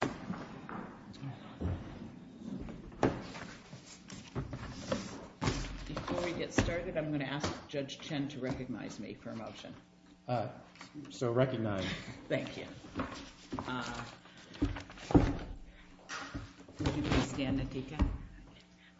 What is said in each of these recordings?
Before we get started, I'm going to ask Judge Chen to recognize me for a motion. So recognized. Thank you. Would you please stand, Nautica?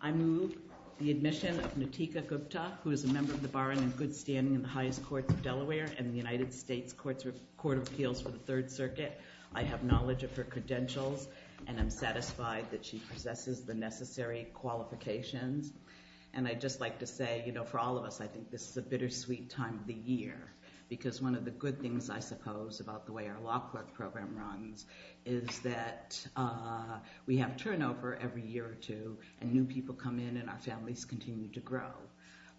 I move the admission of Nautica Gupta, who is a member of the Bar and in good standing in the highest courts of Delaware and the United States Court of Appeals for the Third Circuit. I have knowledge of her credentials, and I'm satisfied that she possesses the necessary qualifications. And I'd just like to say, you know, for all of us, I think this is a bittersweet time of the year, because one of the good things, I suppose, about the way our law court program runs is that we have turnover every year or two, and new people come in and our families continue to grow.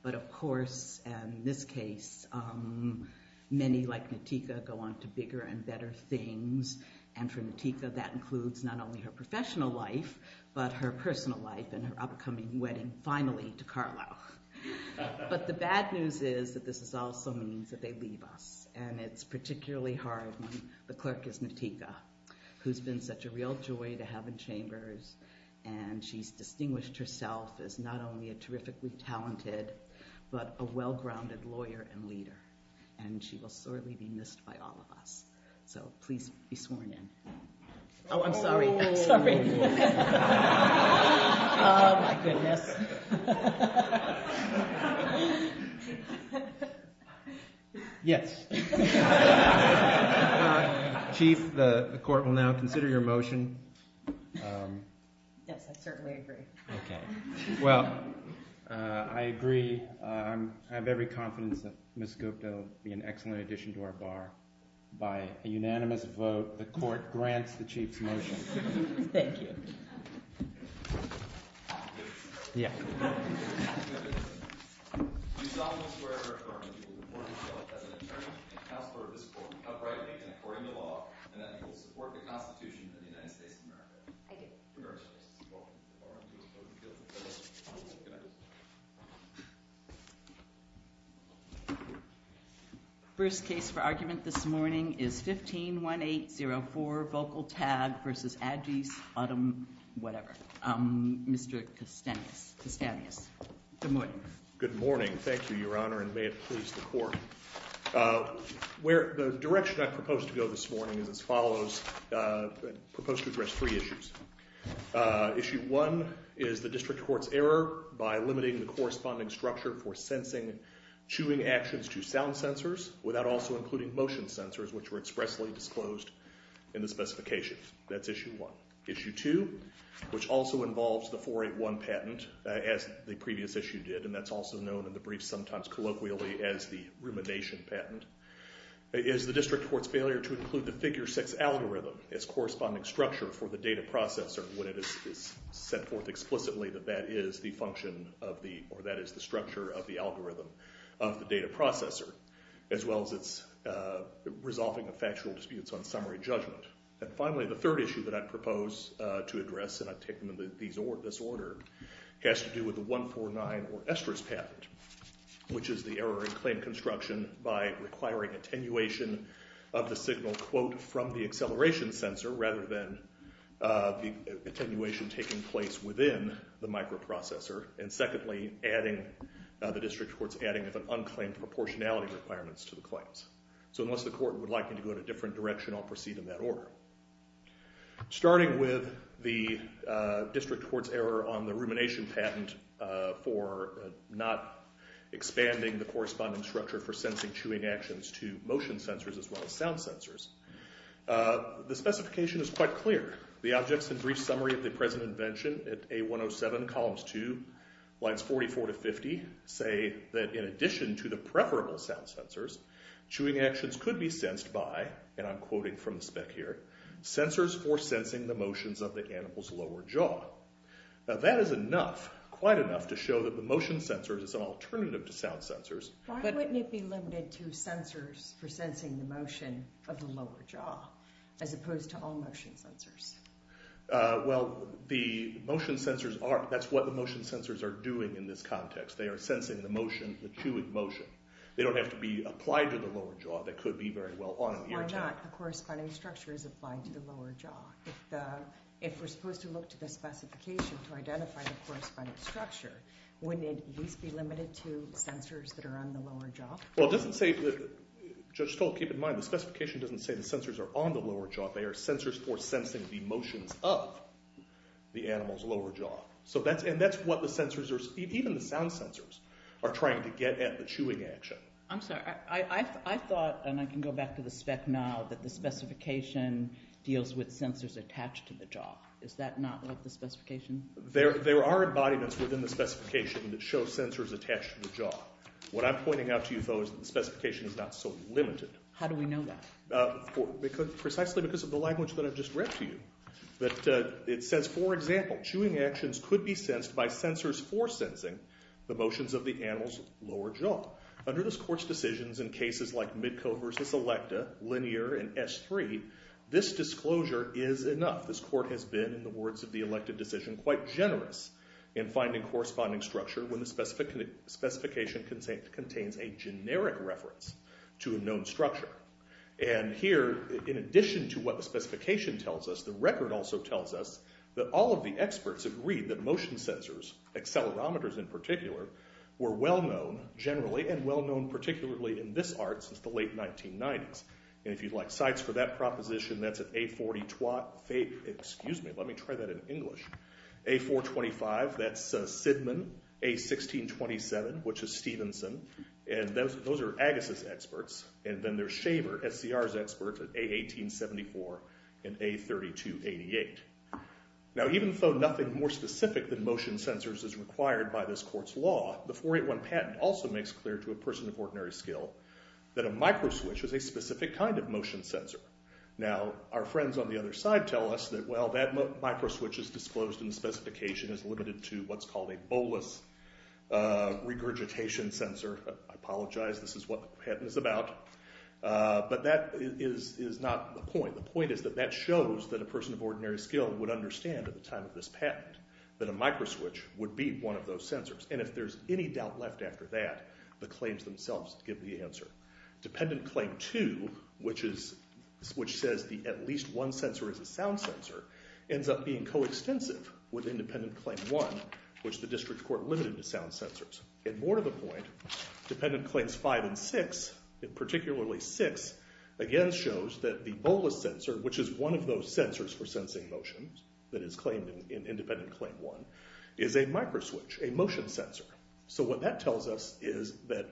But of course, in this case, many like Nautica go on to bigger and better things. And for Nautica, that includes not only her professional life, but her personal life and her upcoming wedding, finally, to Carlisle. But the bad news is that this also means that they leave us. And it's particularly hard when the clerk is Nautica, who's been such a real joy to but a well-grounded lawyer and leader. And she will certainly be missed by all of us. So please be sworn in. Oh, I'm sorry. I'm sorry. Oh, my goodness. Yes. Chief, the court will now consider your motion. Yes, I certainly agree. Okay. Well, I agree. I have every confidence that Ms. Gupta will be an excellent addition to our bar. By a unanimous vote, the court grants the chief's motion. Thank you. Yeah. First case for argument this morning is 151804, Vocal Tag v. Adgees, Odom, whatever, Mr. Kastenius. Good morning. Good morning. Thank you, Your Honor. And may it please the court. The direction I propose to go this morning is as follows. I propose to address three issues. Issue one is the district court's error by limiting the corresponding structure for sensing chewing actions to sound sensors without also including motion sensors, which were expressly disclosed in the specifications. That's issue one. Issue two, which also involves the 481 patent, as the previous issue did, and that's also known in the brief sometimes colloquially as the rumination patent, is the district court's failure to include the figure six algorithm as corresponding structure for the data processor when it is set forth explicitly that that is the function of the, or that is the structure of the algorithm of the data processor, as well as its resolving of factual disputes on summary judgment. And finally, the third issue that I propose to address, and I take them in this order, has to do with the 149 or estrous patent, which is the error in claim construction by requiring attenuation of the signal quote from the acceleration sensor rather than attenuation taking place within the microprocessor, and secondly, adding, the district court's adding of an unclaimed proportionality requirements to the claims. So unless the court would like me to go in a different direction, I'll proceed in that order. Starting with the district court's error on the rumination patent for not expanding the corresponding structure for sensing chewing actions to motion sensors as well as sound sensors, the specification is quite clear. The objects and brief summary of the present invention at A107, columns two, lines 44 to sound sensors, chewing actions could be sensed by, and I'm quoting from the spec here, sensors for sensing the motions of the animal's lower jaw. Now that is enough, quite enough, to show that the motion sensors is an alternative to sound sensors. Why wouldn't it be limited to sensors for sensing the motion of the lower jaw as opposed to all motion sensors? Well, the motion sensors are, that's what the motion sensors are doing in this context. They are sensing the motion, the chewing motion. They don't have to be applied to the lower jaw. They could be very well on an ear tip. Why not? The corresponding structure is applied to the lower jaw. If we're supposed to look to the specification to identify the corresponding structure, wouldn't it at least be limited to sensors that are on the lower jaw? Well, it doesn't say, Judge Stolt, keep in mind, the specification doesn't say the sensors are on the lower jaw. They are sensors for sensing the motions of the animal's lower jaw. So that's, and that's what the sensors are, even the sound sensors are trying to get at the chewing action. I'm sorry, I thought, and I can go back to the spec now, that the specification deals with sensors attached to the jaw. Is that not what the specification? There are embodiments within the specification that show sensors attached to the jaw. What I'm pointing out to you though is that the specification is not so limited. How do we know that? Precisely because of the language that I've just read to you. It says, for example, chewing actions could be sensed by sensors for sensing the motions of the animal's lower jaw. Under this court's decisions in cases like Midco versus Electa, Linear, and S3, this disclosure is enough. This court has been, in the words of the elected decision, quite generous in finding corresponding structure when the specification contains a generic reference to a known structure. And here, in addition to what the specification tells us, the record also tells us that all of the experts agreed that motion sensors, accelerometers in particular, were well-known generally, and well-known particularly in this art since the late 1990s. And if you'd like sites for that proposition, that's at A40 Twatt, excuse me, let me try that in English, A425, that's Sidman, A1627, which is Stevenson, and those are Agassiz experts, and then there's Shaver, SCR's expert, at A1874 and A3288. Now, even though nothing more specific than motion sensors is required by this court's law, the 481 patent also makes clear to a person of ordinary skill that a microswitch is a specific kind of motion sensor. Now, our friends on the other side tell us that, well, that microswitch is disclosed in the specification as limited to what's called a bolus regurgitation sensor. I apologize, this is what the patent is about. But that is not the point. The point is that that shows that a person of ordinary skill would understand at the time of this patent that a microswitch would be one of those sensors. And if there's any doubt left after that, the claims themselves give the answer. Dependent Claim 2, which says at least one sensor is a sound sensor, ends up being coextensive with Independent Claim 1, which the district court limited to sound sensors. And more to the point, Dependent Claims 5 and 6, particularly 6, again shows that the bolus sensor, which is one of those sensors for sensing motion that is claimed in Independent Claim 1, is a microswitch, a motion sensor. So what that tells us is that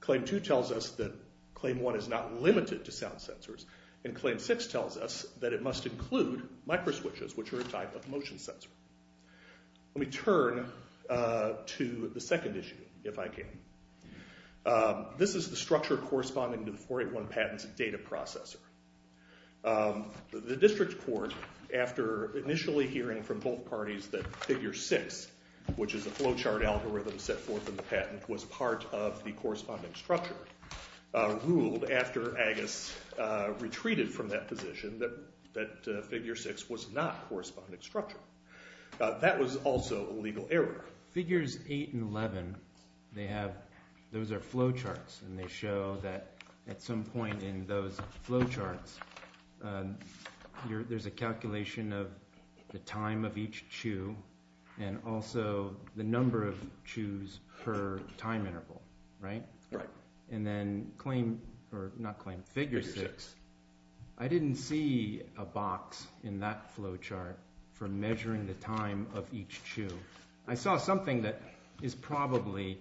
Claim 2 tells us that Claim 1 is not limited to sound sensors, and Claim 6 tells us that it must include microswitches, which are a type of motion sensor. Let me turn to the second issue, if I can. This is the structure corresponding to the 481 patent's data processor. The district court, after initially hearing from both parties that Figure 6, which is a flowchart algorithm set forth in the patent, was part of the corresponding structure, ruled after Agus retreated from that position that Figure 6 was not a corresponding structure. That was also a legal error. Figures 8 and 11, those are flowcharts, and they show that at some point in those flowcharts there's a calculation of the time of each chew, and also the number of chews per time interval. Right? Right. And then Claim, or not Claim, Figure 6, I didn't see a box in that flowchart for measuring the time of each chew. I saw something that is probably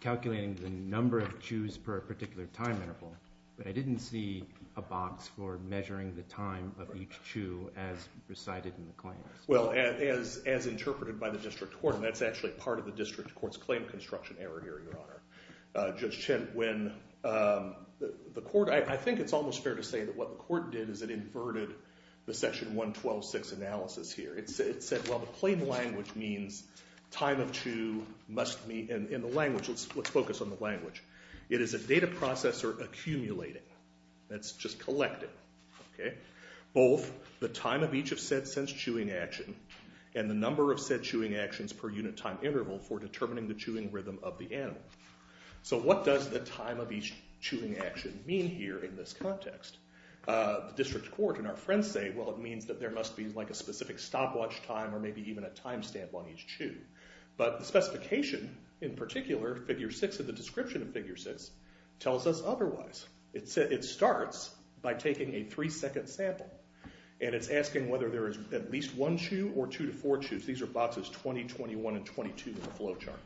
calculating the number of chews per particular time interval, but I didn't see a box for measuring the time of each chew as recited in the claims. Well, as interpreted by the district court, and that's actually part of the district court's claim construction error here, Your Honor, Judge Chint, when the court, I think it's almost fair to say that what the court did is it inverted the Section 112.6 analysis here. It said, well, the plain language means time of chew must be, and in the language, let's focus on the language, it is a data processor accumulating. That's just collecting. OK? Both the time of each of said sensed chewing action and the number of said chewing actions per unit time interval for determining the chewing rhythm of the animal. So what does the time of each chewing action mean here in this context? The district court and our friends say, well, it means that there must be a specific stopwatch time, or maybe even a time stamp on each chew. But the specification, in particular, Figure 6 and the description of Figure 6, tells us otherwise. It starts by taking a three-second sample, and it's asking whether there is at least one chew or two to four chews. These are boxes 20, 21, and 22 in the flow chart.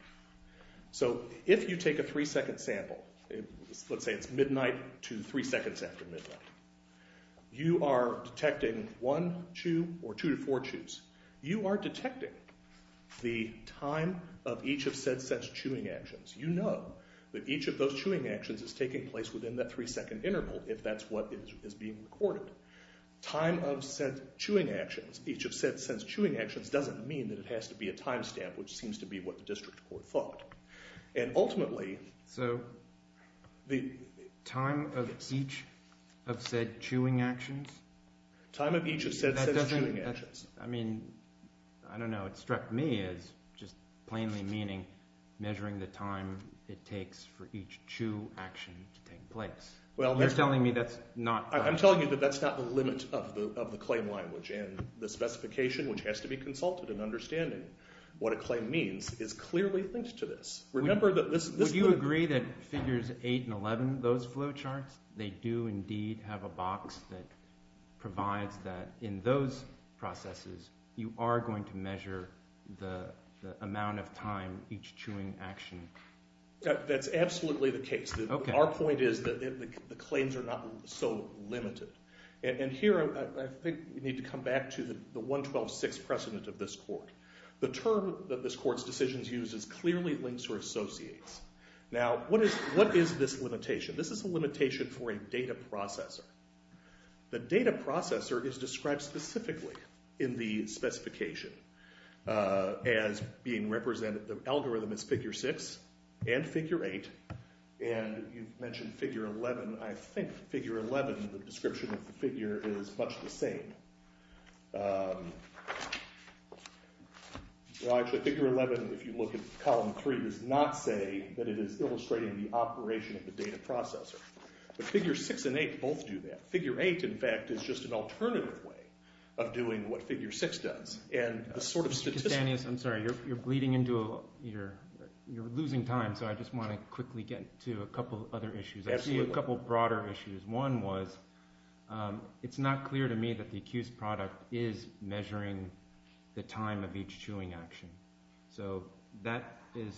So if you take a three-second sample, let's say it's midnight to three seconds after midnight, you are detecting one chew or two to four chews. You are detecting the time of each of said sensed chewing actions. You know that each of those chewing actions is taking place within that three-second interval, if that's what is being recorded. Time of said chewing actions, each of said sensed chewing actions, doesn't mean that it has to be a time stamp, which seems to be what the district court thought. And ultimately... So the time of each of said chewing actions? Time of each of said sensed chewing actions. I mean, I don't know, it struck me as just plainly meaning measuring the time it takes for each chew action to take place. You're telling me that's not... I'm telling you that that's not the limit of the claim language. And the specification, which has to be consulted in understanding what a claim means, is clearly linked to this. Remember that this... Would you agree that Figures 8 and 11, those flow charts, they do indeed have a box that provides that in those processes you are going to measure the amount of time each chewing action... That's absolutely the case. Our point is that the claims are not so limited. And here, I think we need to come back to the 112.6 precedent of this court. The term that this court's decisions use is clearly links or associates. Now, what is this limitation? This is a limitation for a data processor. The data processor is described specifically in the specification as being represented... The algorithm is Figure 6 and Figure 8. And you mentioned Figure 11. I think Figure 11, the description of the figure, is much the same. Well, actually, Figure 11, if you look at Column 3, does not say that it is illustrating the operation of the data processor. But Figure 6 and 8 both do that. Figure 8, in fact, is just an alternative way of doing what Figure 6 does. Mr. Castaneous, I'm sorry. You're bleeding into a... You're losing time, so I just want to quickly get to a couple other issues. I see a couple broader issues. One was, it's not clear to me that the accused product is measuring the time of each chewing action. So that is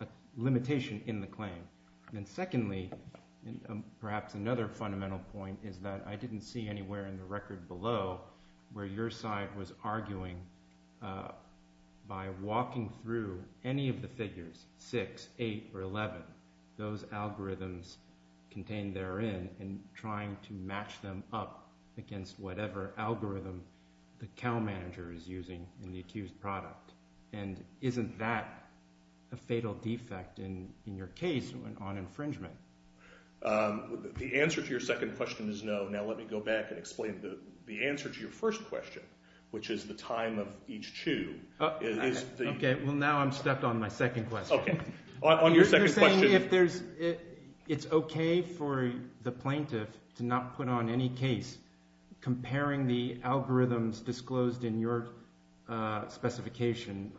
a limitation in the claim. And secondly, perhaps another fundamental point is that I didn't see anywhere in the record below where your side was arguing by walking through any of the figures, 6, 8, or 11, those algorithms contained therein and trying to match them up against whatever algorithm the Cal Manager is using in the accused product. And isn't that a fatal defect in your case on infringement? The answer to your second question is no. Now let me go back and explain the answer to your first question, which is the time of each chew. Okay. Well, now I'm stuck on my second question. On your second question... You're saying it's okay for the plaintiff to not put on any case comparing the algorithms disclosed in your specification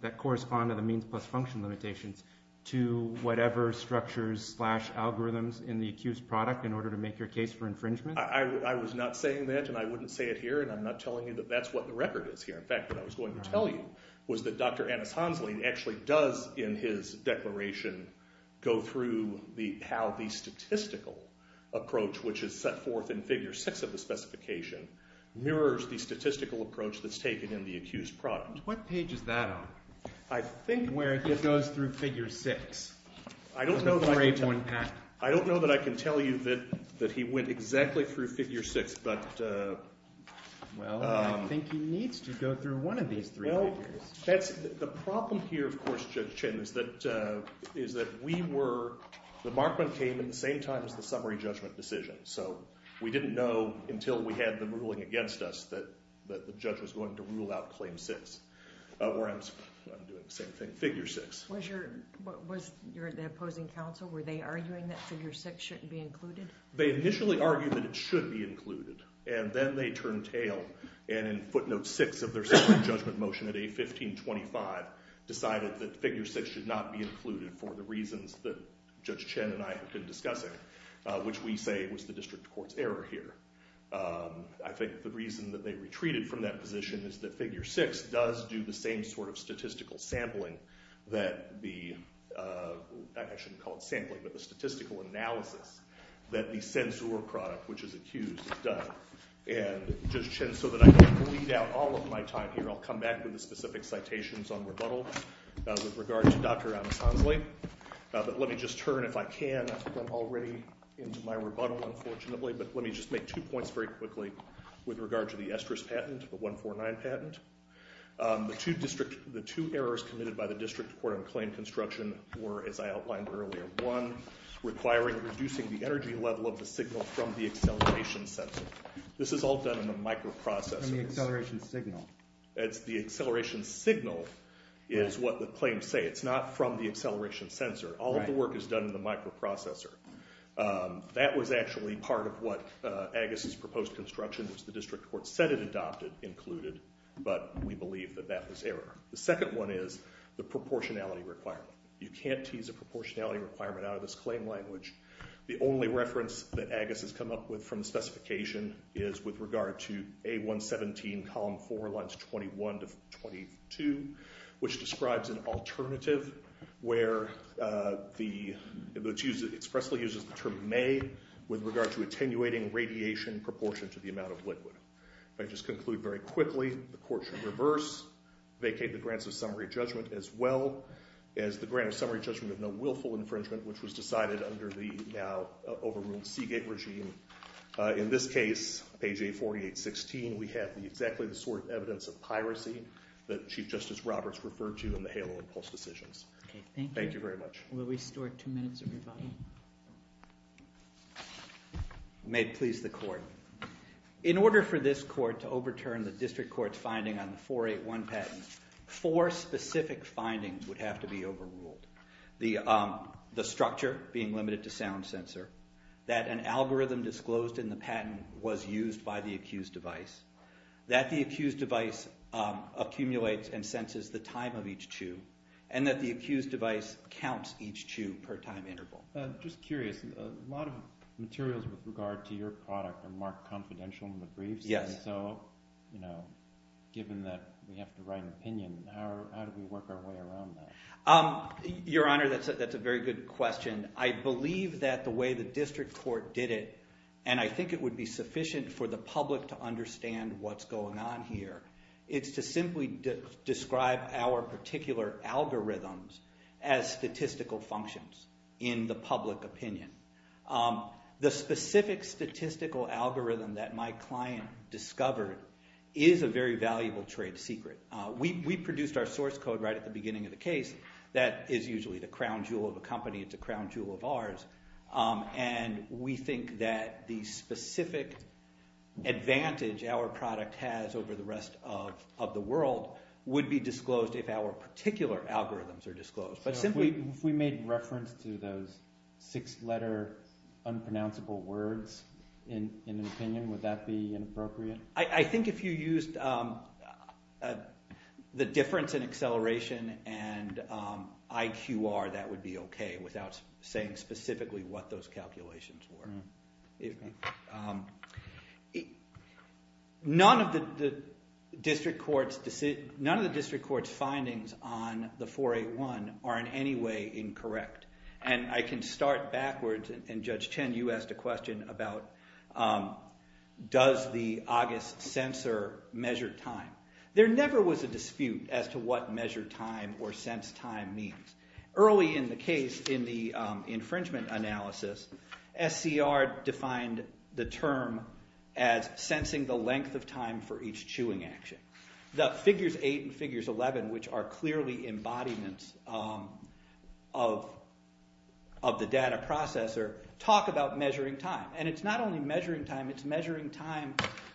that correspond to the means plus function limitations to whatever structures slash algorithms in the accused product in order to make your case for infringement? I was not saying that, and I wouldn't say it here, and I'm not telling you that that's what the record is here. In fact, what I was going to tell you was that Dr. Anas Hansley actually does, in his declaration, go through how the statistical approach, which is set forth in Figure 6 of the specification, mirrors the statistical approach that's taken in the accused product. What page is that on? I think where it goes through Figure 6. I don't know that I can tell you that he went exactly through Figure 6, but... Well, I think he needs to go through one of these three figures. The problem here, of course, Judge Chin, is that we were... The markment came at the same time as the summary judgment decision, so we didn't know until we had the ruling against us that the judge was going to rule out Claim 6. I'm doing the same thing. Figure 6. Was the opposing counsel, were they arguing that Figure 6 shouldn't be included? They initially argued that it should be included, and then they turned tail, and in footnote 6 of their summary judgment motion at A1525, decided that Figure 6 should not be included for the reasons that Judge Chin and I have been discussing, which we say was the district court's error here. I think the reason that they retreated from that position is that Figure 6 does do the same sort of statistical sampling that the... I shouldn't call it sampling, but the statistical analysis that the censure product, which is accused, has done. And, Judge Chin, so that I don't bleed out all of my time here, I'll come back with the specific citations on rebuttal with regard to Dr. Anacondle. But let me just turn, if I can, I think I'm already into my rebuttal, unfortunately, but let me just make two points very quickly with regard to the estrous patent, the 149 patent. The two errors committed by the district court on claim construction were, as I outlined earlier, one, requiring reducing the energy level of the signal from the acceleration sensor. This is all done in the microprocessor. From the acceleration signal. The acceleration signal is what the claims say. It's not from the acceleration sensor. All of the work is done in the microprocessor. That was actually part of what Agus's proposed construction, which the district court said it adopted, included. But we believe that that was error. The second one is the proportionality requirement. You can't tease a proportionality requirement out of this claim language. The only reference that Agus has come up with from the specification is with regard to A117, column 4, lines 21 to 22, which describes an alternative where it expressly uses the term may with regard to attenuating radiation proportion to the amount of liquid. If I just conclude very quickly, the court should reverse, vacate the grants of summary judgment, as well as the grant of summary judgment of no willful infringement, which was decided under the now overruled Seagate regime. In this case, page 848.16, we have exactly the sort of evidence of piracy that Chief Justice Roberts referred to in the HALO and PULSE decisions. Thank you very much. Will we store two minutes of your time? May it please the court. In order for this court to overturn the district court's finding on the 481 patent, four specific findings would have to be overruled. The structure being limited to sound sensor, that an algorithm disclosed in the patent was used by the accused device, that the accused device accumulates and senses the time of each chew, and that the accused device counts each chew per time interval. I'm just curious. A lot of materials with regard to your product are marked confidential in the briefs. So given that we have to write an opinion, how do we work our way around that? Your Honor, that's a very good question. I believe that the way the district court did it, and I think it would be sufficient for the public to understand what's going on here, is to simply describe our particular algorithms as statistical functions in the public opinion. The specific statistical algorithm that my client discovered is a very valuable trade secret. We produced our source code right at the beginning of the case. That is usually the crown jewel of a company. It's a crown jewel of ours. And we think that the specific advantage our product has over the rest of the world would be disclosed if our particular algorithms are disclosed. If we made reference to those six-letter unpronounceable words in an opinion, would that be inappropriate? I think if you used the difference in acceleration and IQR, that would be okay without saying specifically what those calculations were. None of the district court's findings on the 481 are in any way incorrect. And I can start backwards, and Judge Chen, you asked a question about does the August sensor measure time. There never was a dispute as to what measure time or sense time means. Early in the case, in the infringement analysis, SCR defined the term as sensing the length of time for each chewing action. The figures 8 and figures 11, which are clearly embodiments of the data processor, talk about measuring time. And it's not only measuring time, it's measuring time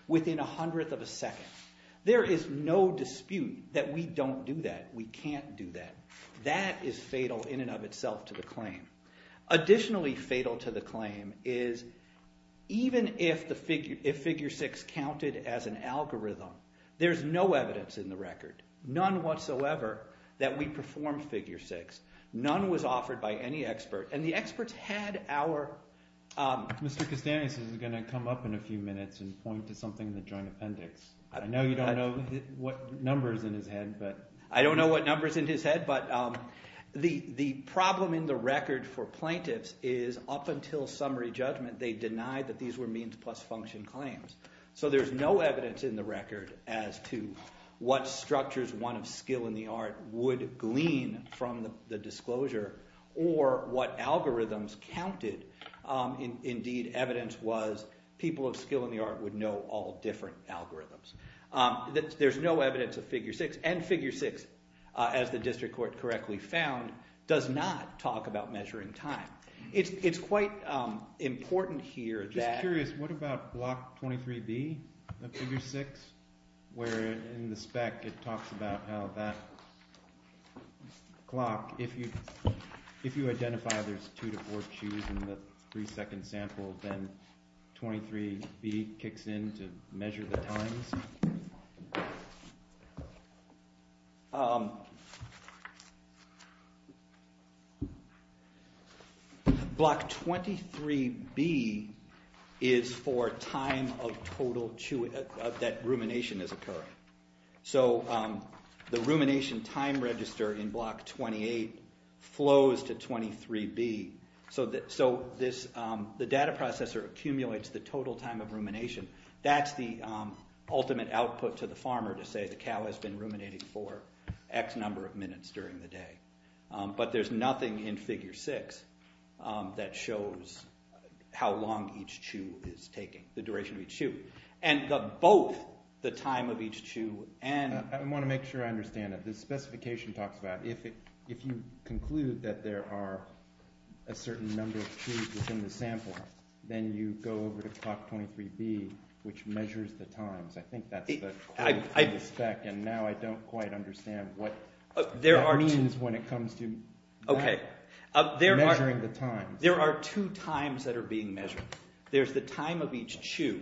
within a hundredth of a second. There is no dispute that we don't do that. We can't do that. That is fatal in and of itself to the claim. Additionally fatal to the claim is even if figure 6 counted as an algorithm, there's no evidence in the record, none whatsoever, that we performed figure 6. None was offered by any expert, and the experts had our – Mr. Kastanis is going to come up in a few minutes and point to something in the joint appendix. I know you don't know what numbers in his head, but – The record for plaintiffs is up until summary judgment they denied that these were means plus function claims. So there's no evidence in the record as to what structures, one of skill and the art, would glean from the disclosure or what algorithms counted. Indeed, evidence was people of skill and the art would know all different algorithms. There's no evidence of figure 6, and figure 6, as the district court correctly found, does not talk about measuring time. It's quite important here that – I'm just curious. What about block 23B of figure 6 where in the spec it talks about how that clock – if you identify there's two to four chews in the three-second sample, then 23B kicks in to measure the times? Block 23B is for time of total chew – that rumination is occurring. So the rumination time register in block 28 flows to 23B. So the data processor accumulates the total time of rumination. That's the ultimate output to the farmer to say the cow has been ruminating for X number of minutes during the day. But there's nothing in figure 6 that shows how long each chew is taking, the duration of each chew. And both the time of each chew and – I want to make sure I understand it. The specification talks about if you conclude that there are a certain number of chews within the sample, then you go over to clock 23B, which measures the times. I think that's the claim from the spec, and now I don't quite understand what that means when it comes to measuring the times. There are two times that are being measured. There's the time of each chew,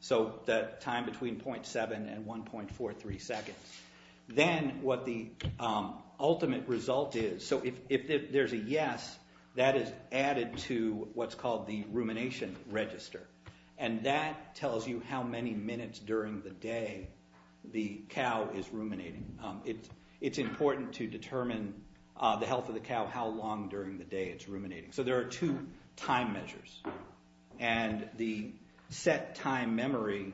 so the time between 0.7 and 1.43 seconds. Then what the ultimate result is – so if there's a yes, that is added to what's called the rumination register. And that tells you how many minutes during the day the cow is ruminating. It's important to determine the health of the cow, how long during the day it's ruminating. So there are two time measures, and the set time memory,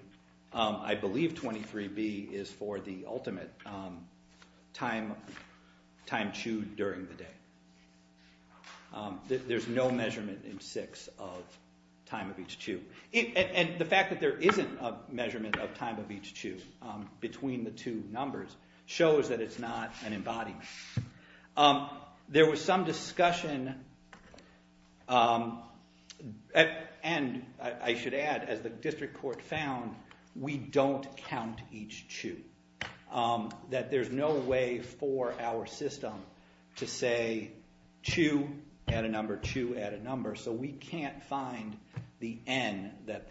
I believe 23B, is for the ultimate time chewed during the day. There's no measurement in 6 of time of each chew. And the fact that there isn't a measurement of time of each chew between the two numbers shows that it's not an embodiment. There was some discussion, and I should add, as the district court found, we don't count each chew. That there's no way for our system to say chew at a number, chew at a number. So we can't find the N that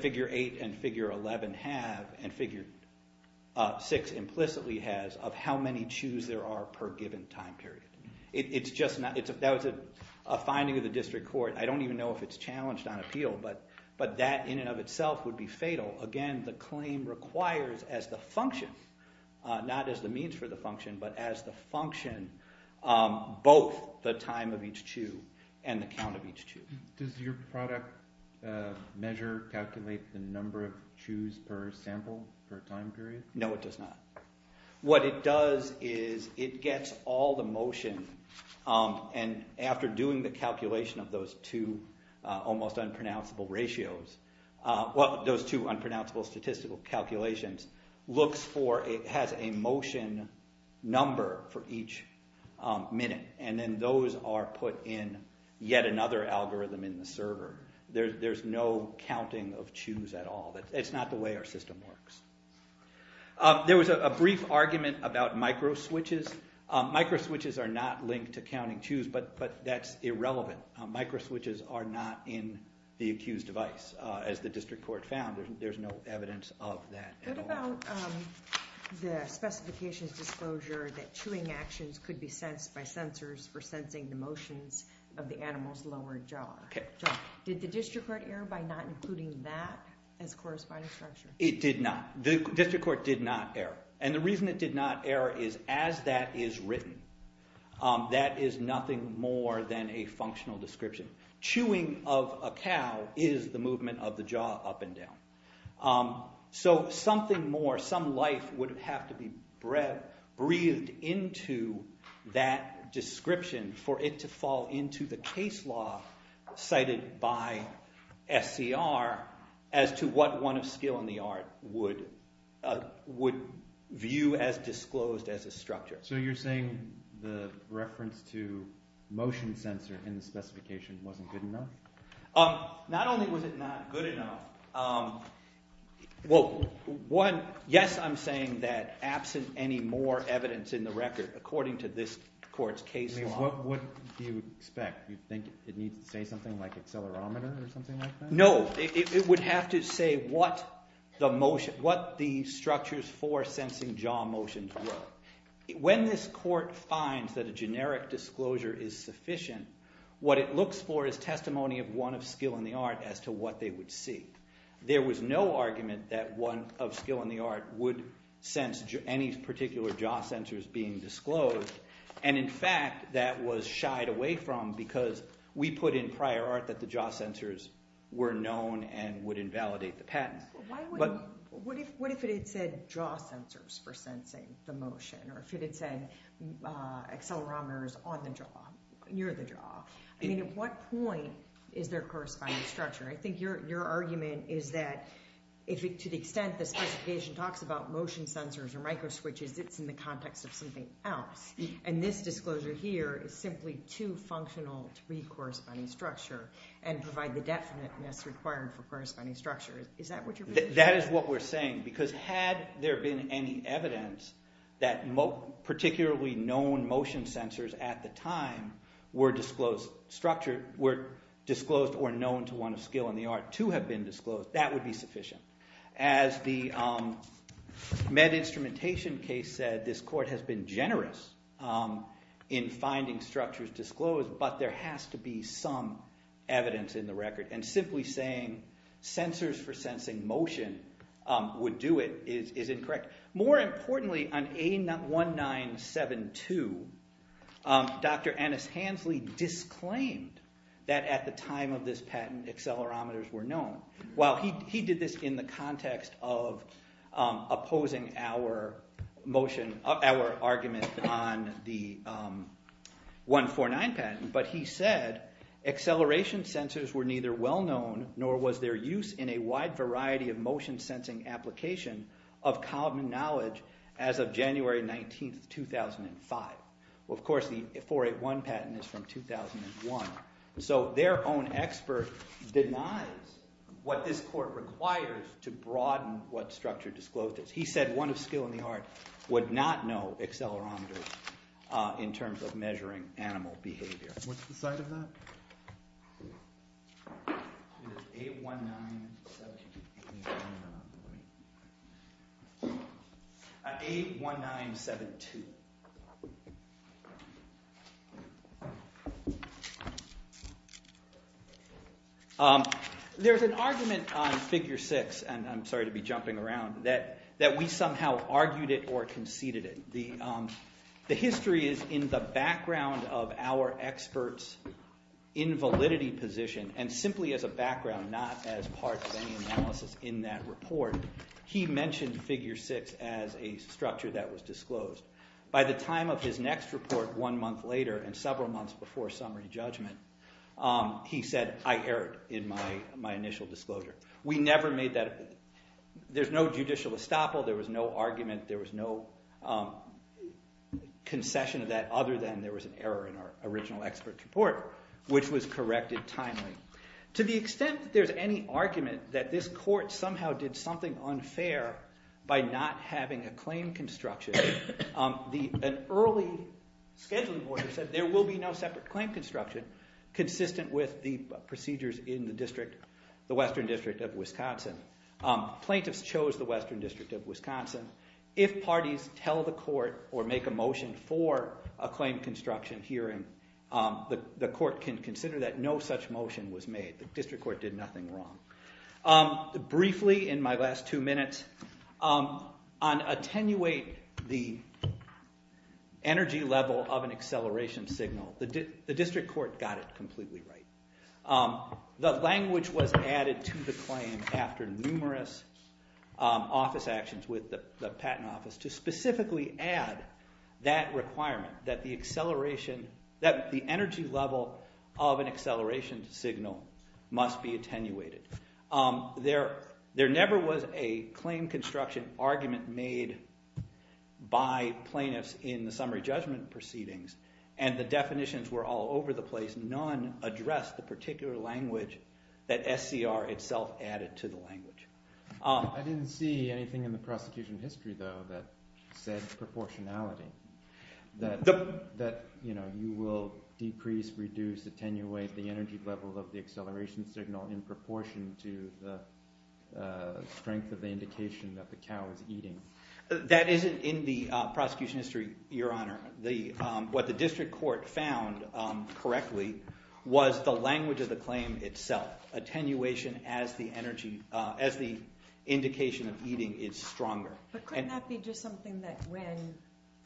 figure 8 and figure 11 have, and figure 6 implicitly has, of how many chews there are per given time period. That was a finding of the district court. I don't even know if it's challenged on appeal, but that in and of itself would be fatal. Again, the claim requires as the function, not as the means for the function, but as the function, both the time of each chew and the count of each chew. Does your product measure calculate the number of chews per sample per time period? No, it does not. What it does is it gets all the motion, and after doing the calculation of those two almost unpronounceable ratios, well, those two unpronounceable statistical calculations, looks for, it has a motion number for each minute. And then those are put in yet another algorithm in the server. There's no counting of chews at all. It's not the way our system works. There was a brief argument about microswitches. Microswitches are not linked to counting chews, but that's irrelevant. Microswitches are not in the accused device. As the district court found, there's no evidence of that at all. What about the specifications disclosure that chewing actions could be sensed by sensors for sensing the motions of the animal's lower jaw? Did the district court err by not including that as corresponding structure? It did not. The district court did not err. And the reason it did not err is as that is written, that is nothing more than a functional description. Chewing of a cow is the movement of the jaw up and down. So something more, some life would have to be breathed into that description for it to fall into the case law cited by SCR as to what one of skill in the art would view as disclosed as a structure. So you're saying the reference to motion sensor in the specification wasn't good enough? Not only was it not good enough. Well, yes, I'm saying that absent any more evidence in the record, according to this court's case law. What do you expect? You think it needs to say something like accelerometer or something like that? No. It would have to say what the structures for sensing jaw motions were. When this court finds that a generic disclosure is sufficient, what it looks for is testimony of one of skill in the art as to what they would see. There was no argument that one of skill in the art would sense any particular jaw sensors being disclosed. And in fact, that was shied away from because we put in prior art that the jaw sensors were known and would invalidate the patent. What if it had said jaw sensors for sensing the motion? Or if it had said accelerometers on the jaw, near the jaw? I mean, at what point is there corresponding structure? I think your argument is that to the extent the specification talks about motion sensors or microswitches, it's in the context of something else. And this disclosure here is simply too functional to be corresponding structure and provide the definiteness required for corresponding structure. That is what we're saying. Because had there been any evidence that particularly known motion sensors at the time were disclosed or known to one of skill in the art to have been disclosed, that would be sufficient. As the med instrumentation case said, this court has been generous in finding structures disclosed, but there has to be some evidence in the record. And simply saying sensors for sensing motion would do it is incorrect. More importantly, on A1972, Dr. Annis Hansley disclaimed that at the time of this patent accelerometers were known. While he did this in the context of opposing our motion, our argument on the 149 patent, but he said acceleration sensors were neither well-known nor was their use in a wide variety of motion sensing application of common knowledge as of January 19, 2005. Of course, the 481 patent is from 2001. So their own expert denies what this court requires to broaden what structure disclosed is. He said one of skill in the art would not know accelerometers in terms of measuring animal behavior. What's the site of that? A1972. There's an argument on figure six, and I'm sorry to be jumping around, that we somehow argued it or conceded it. The history is in the background of our experts' invalidity position, and simply as a background, not as part of any analysis. In that report, he mentioned figure six as a structure that was disclosed. By the time of his next report one month later and several months before summary judgment, he said, I err in my initial disclosure. We never made that. There's no judicial estoppel. There was no argument. There was no concession of that other than there was an error in our original expert report, which was corrected timely. To the extent that there's any argument that this court somehow did something unfair by not having a claim construction, an early scheduling boarder said there will be no separate claim construction consistent with the procedures in the Western District of Wisconsin. Plaintiffs chose the Western District of Wisconsin. If parties tell the court or make a motion for a claim construction hearing, the court can consider that no such motion was made. The district court did nothing wrong. Briefly, in my last two minutes, on attenuate the energy level of an acceleration signal, the district court got it completely right. The language was added to the claim after numerous office actions with the patent office to specifically add that requirement that the energy level of an acceleration signal must be attenuated. There never was a claim construction argument made by plaintiffs in the summary judgment proceedings, and the definitions were all over the place. None addressed the particular language that SCR itself added to the language. I didn't see anything in the prosecution history, though, that said proportionality, that you will decrease, reduce, attenuate the energy level of the acceleration signal in proportion to the strength of the indication that the cow is eating. That isn't in the prosecution history, Your Honor. What the district court found correctly was the language of the claim itself, attenuation as the indication of eating is stronger. But couldn't that be just something that when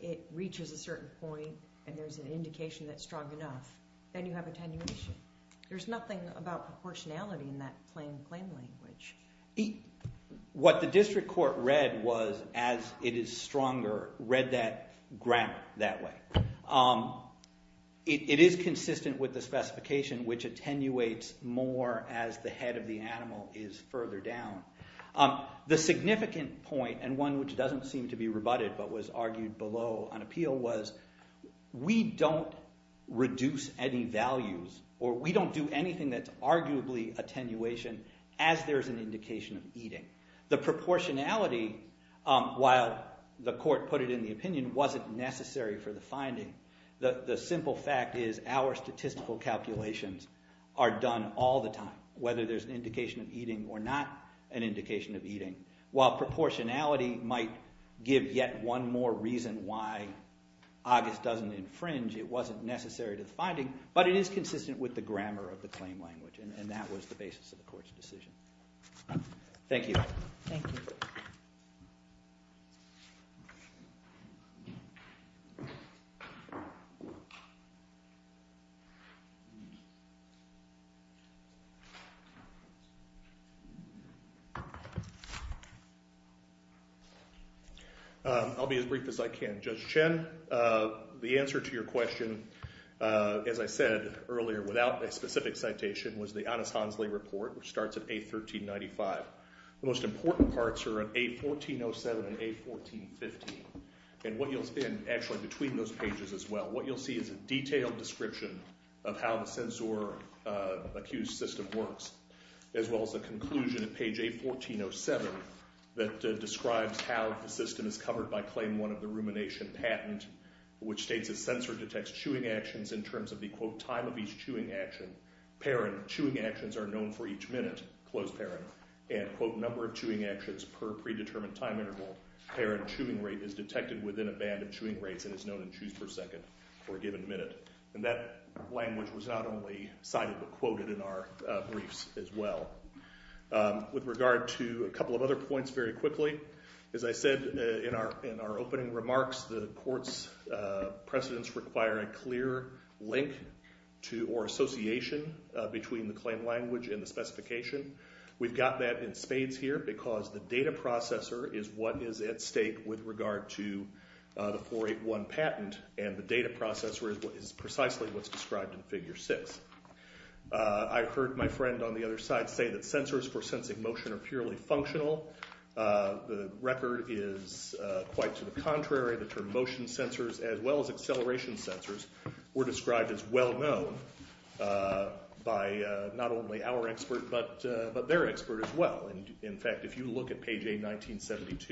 it reaches a certain point and there's an indication that it's strong enough, then you have attenuation? There's nothing about proportionality in that claim language. What the district court read was, as it is stronger, read that grammar that way. It is consistent with the specification which attenuates more as the head of the animal is further down. The significant point, and one which doesn't seem to be rebutted but was argued below on appeal, was we don't reduce any values or we don't do anything that's arguably attenuation The proportionality, while the court put it in the opinion, wasn't necessary for the finding. The simple fact is our statistical calculations are done all the time, whether there's an indication of eating or not an indication of eating. While proportionality might give yet one more reason why August doesn't infringe, it wasn't necessary to the finding, but it is consistent with the grammar of the claim language, and that was the basis of the court's decision. Thank you. Thank you. I'll be as brief as I can. Judge Chen, the answer to your question, as I said earlier without a specific citation, was the Annes-Hansley report, which starts at A1395. The most important parts are at A1407 and A1415. And what you'll see, and actually between those pages as well, what you'll see is a detailed description of how the censor-accused system works, as well as a conclusion at page A1407 that describes how the system is covered by claim one of the rumination patent, which states a censor detects chewing actions in terms of the, quote, number of chewing actions are known for each minute, close parent, and, quote, number of chewing actions per predetermined time interval. Parent chewing rate is detected within a band of chewing rates and is known in chews per second for a given minute. And that language was not only cited but quoted in our briefs as well. With regard to a couple of other points very quickly, as I said in our opening remarks, the court's precedents require a clear link or association between the claim language and the specification. We've got that in spades here because the data processor is what is at stake with regard to the 481 patent, and the data processor is precisely what's described in Figure 6. I heard my friend on the other side say that censors for sensing motion are purely functional. The record is quite to the contrary. The term motion censors as well as acceleration censors were described as well-known by not only our expert but their expert as well. In fact, if you look at page A1972,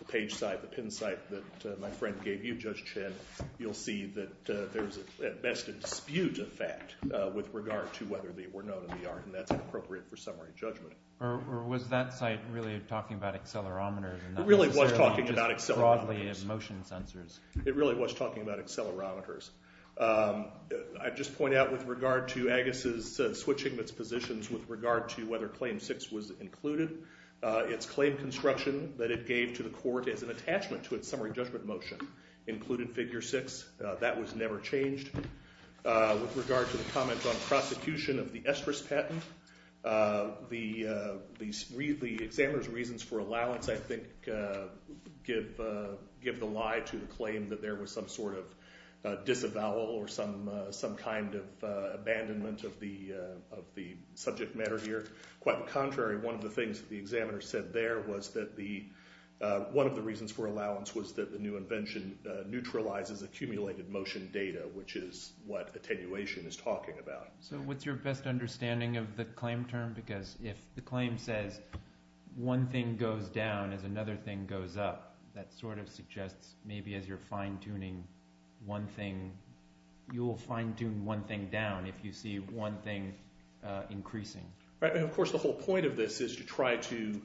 the page site, the pin site that my friend gave you, Judge Chin, you'll see that there's at best a dispute effect with regard to whether they were known in the art, and that's inappropriate for summary judgment. Or was that site really talking about accelerometers and not necessarily just broadly motion censors? It really was talking about accelerometers. I'd just point out with regard to Agassiz switching its positions with regard to whether Claim 6 was included, its claim construction that it gave to the court as an attachment to its summary judgment motion included Figure 6. That was never changed. With regard to the comment on prosecution of the estrous patent, the examiner's reasons for allowance, I think, give the lie to the claim that there was some sort of disavowal or some kind of abandonment of the subject matter here. Quite the contrary, one of the things that the examiner said there was that one of the reasons for allowance was that the new invention neutralizes accumulated motion data, which is what attenuation is talking about. So what's your best understanding of the claim term? Because if the claim says one thing goes down as another thing goes up, that sort of suggests maybe as you're fine-tuning one thing, you'll fine-tune one thing down if you see one thing increasing. Of course, the whole point of this is to try to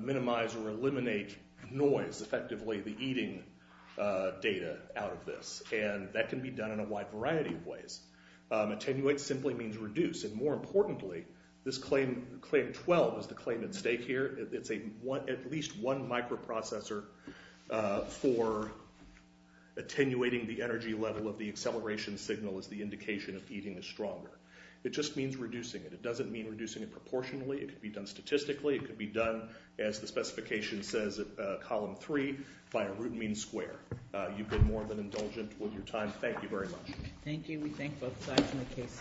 minimize or eliminate noise, effectively the eating data out of this, and that can be done in a wide variety of ways. Attenuate simply means reduce, and more importantly, this Claim 12 is the claim at stake here. It's at least one microprocessor for attenuating the energy level of the acceleration signal as the indication of eating is stronger. It just means reducing it. It doesn't mean reducing it proportionally. It could be done statistically. It could be done, as the specification says at column three, by a root mean square. You've been more than indulgent with your time. Thank you very much. Thank you. We thank both sides on the case.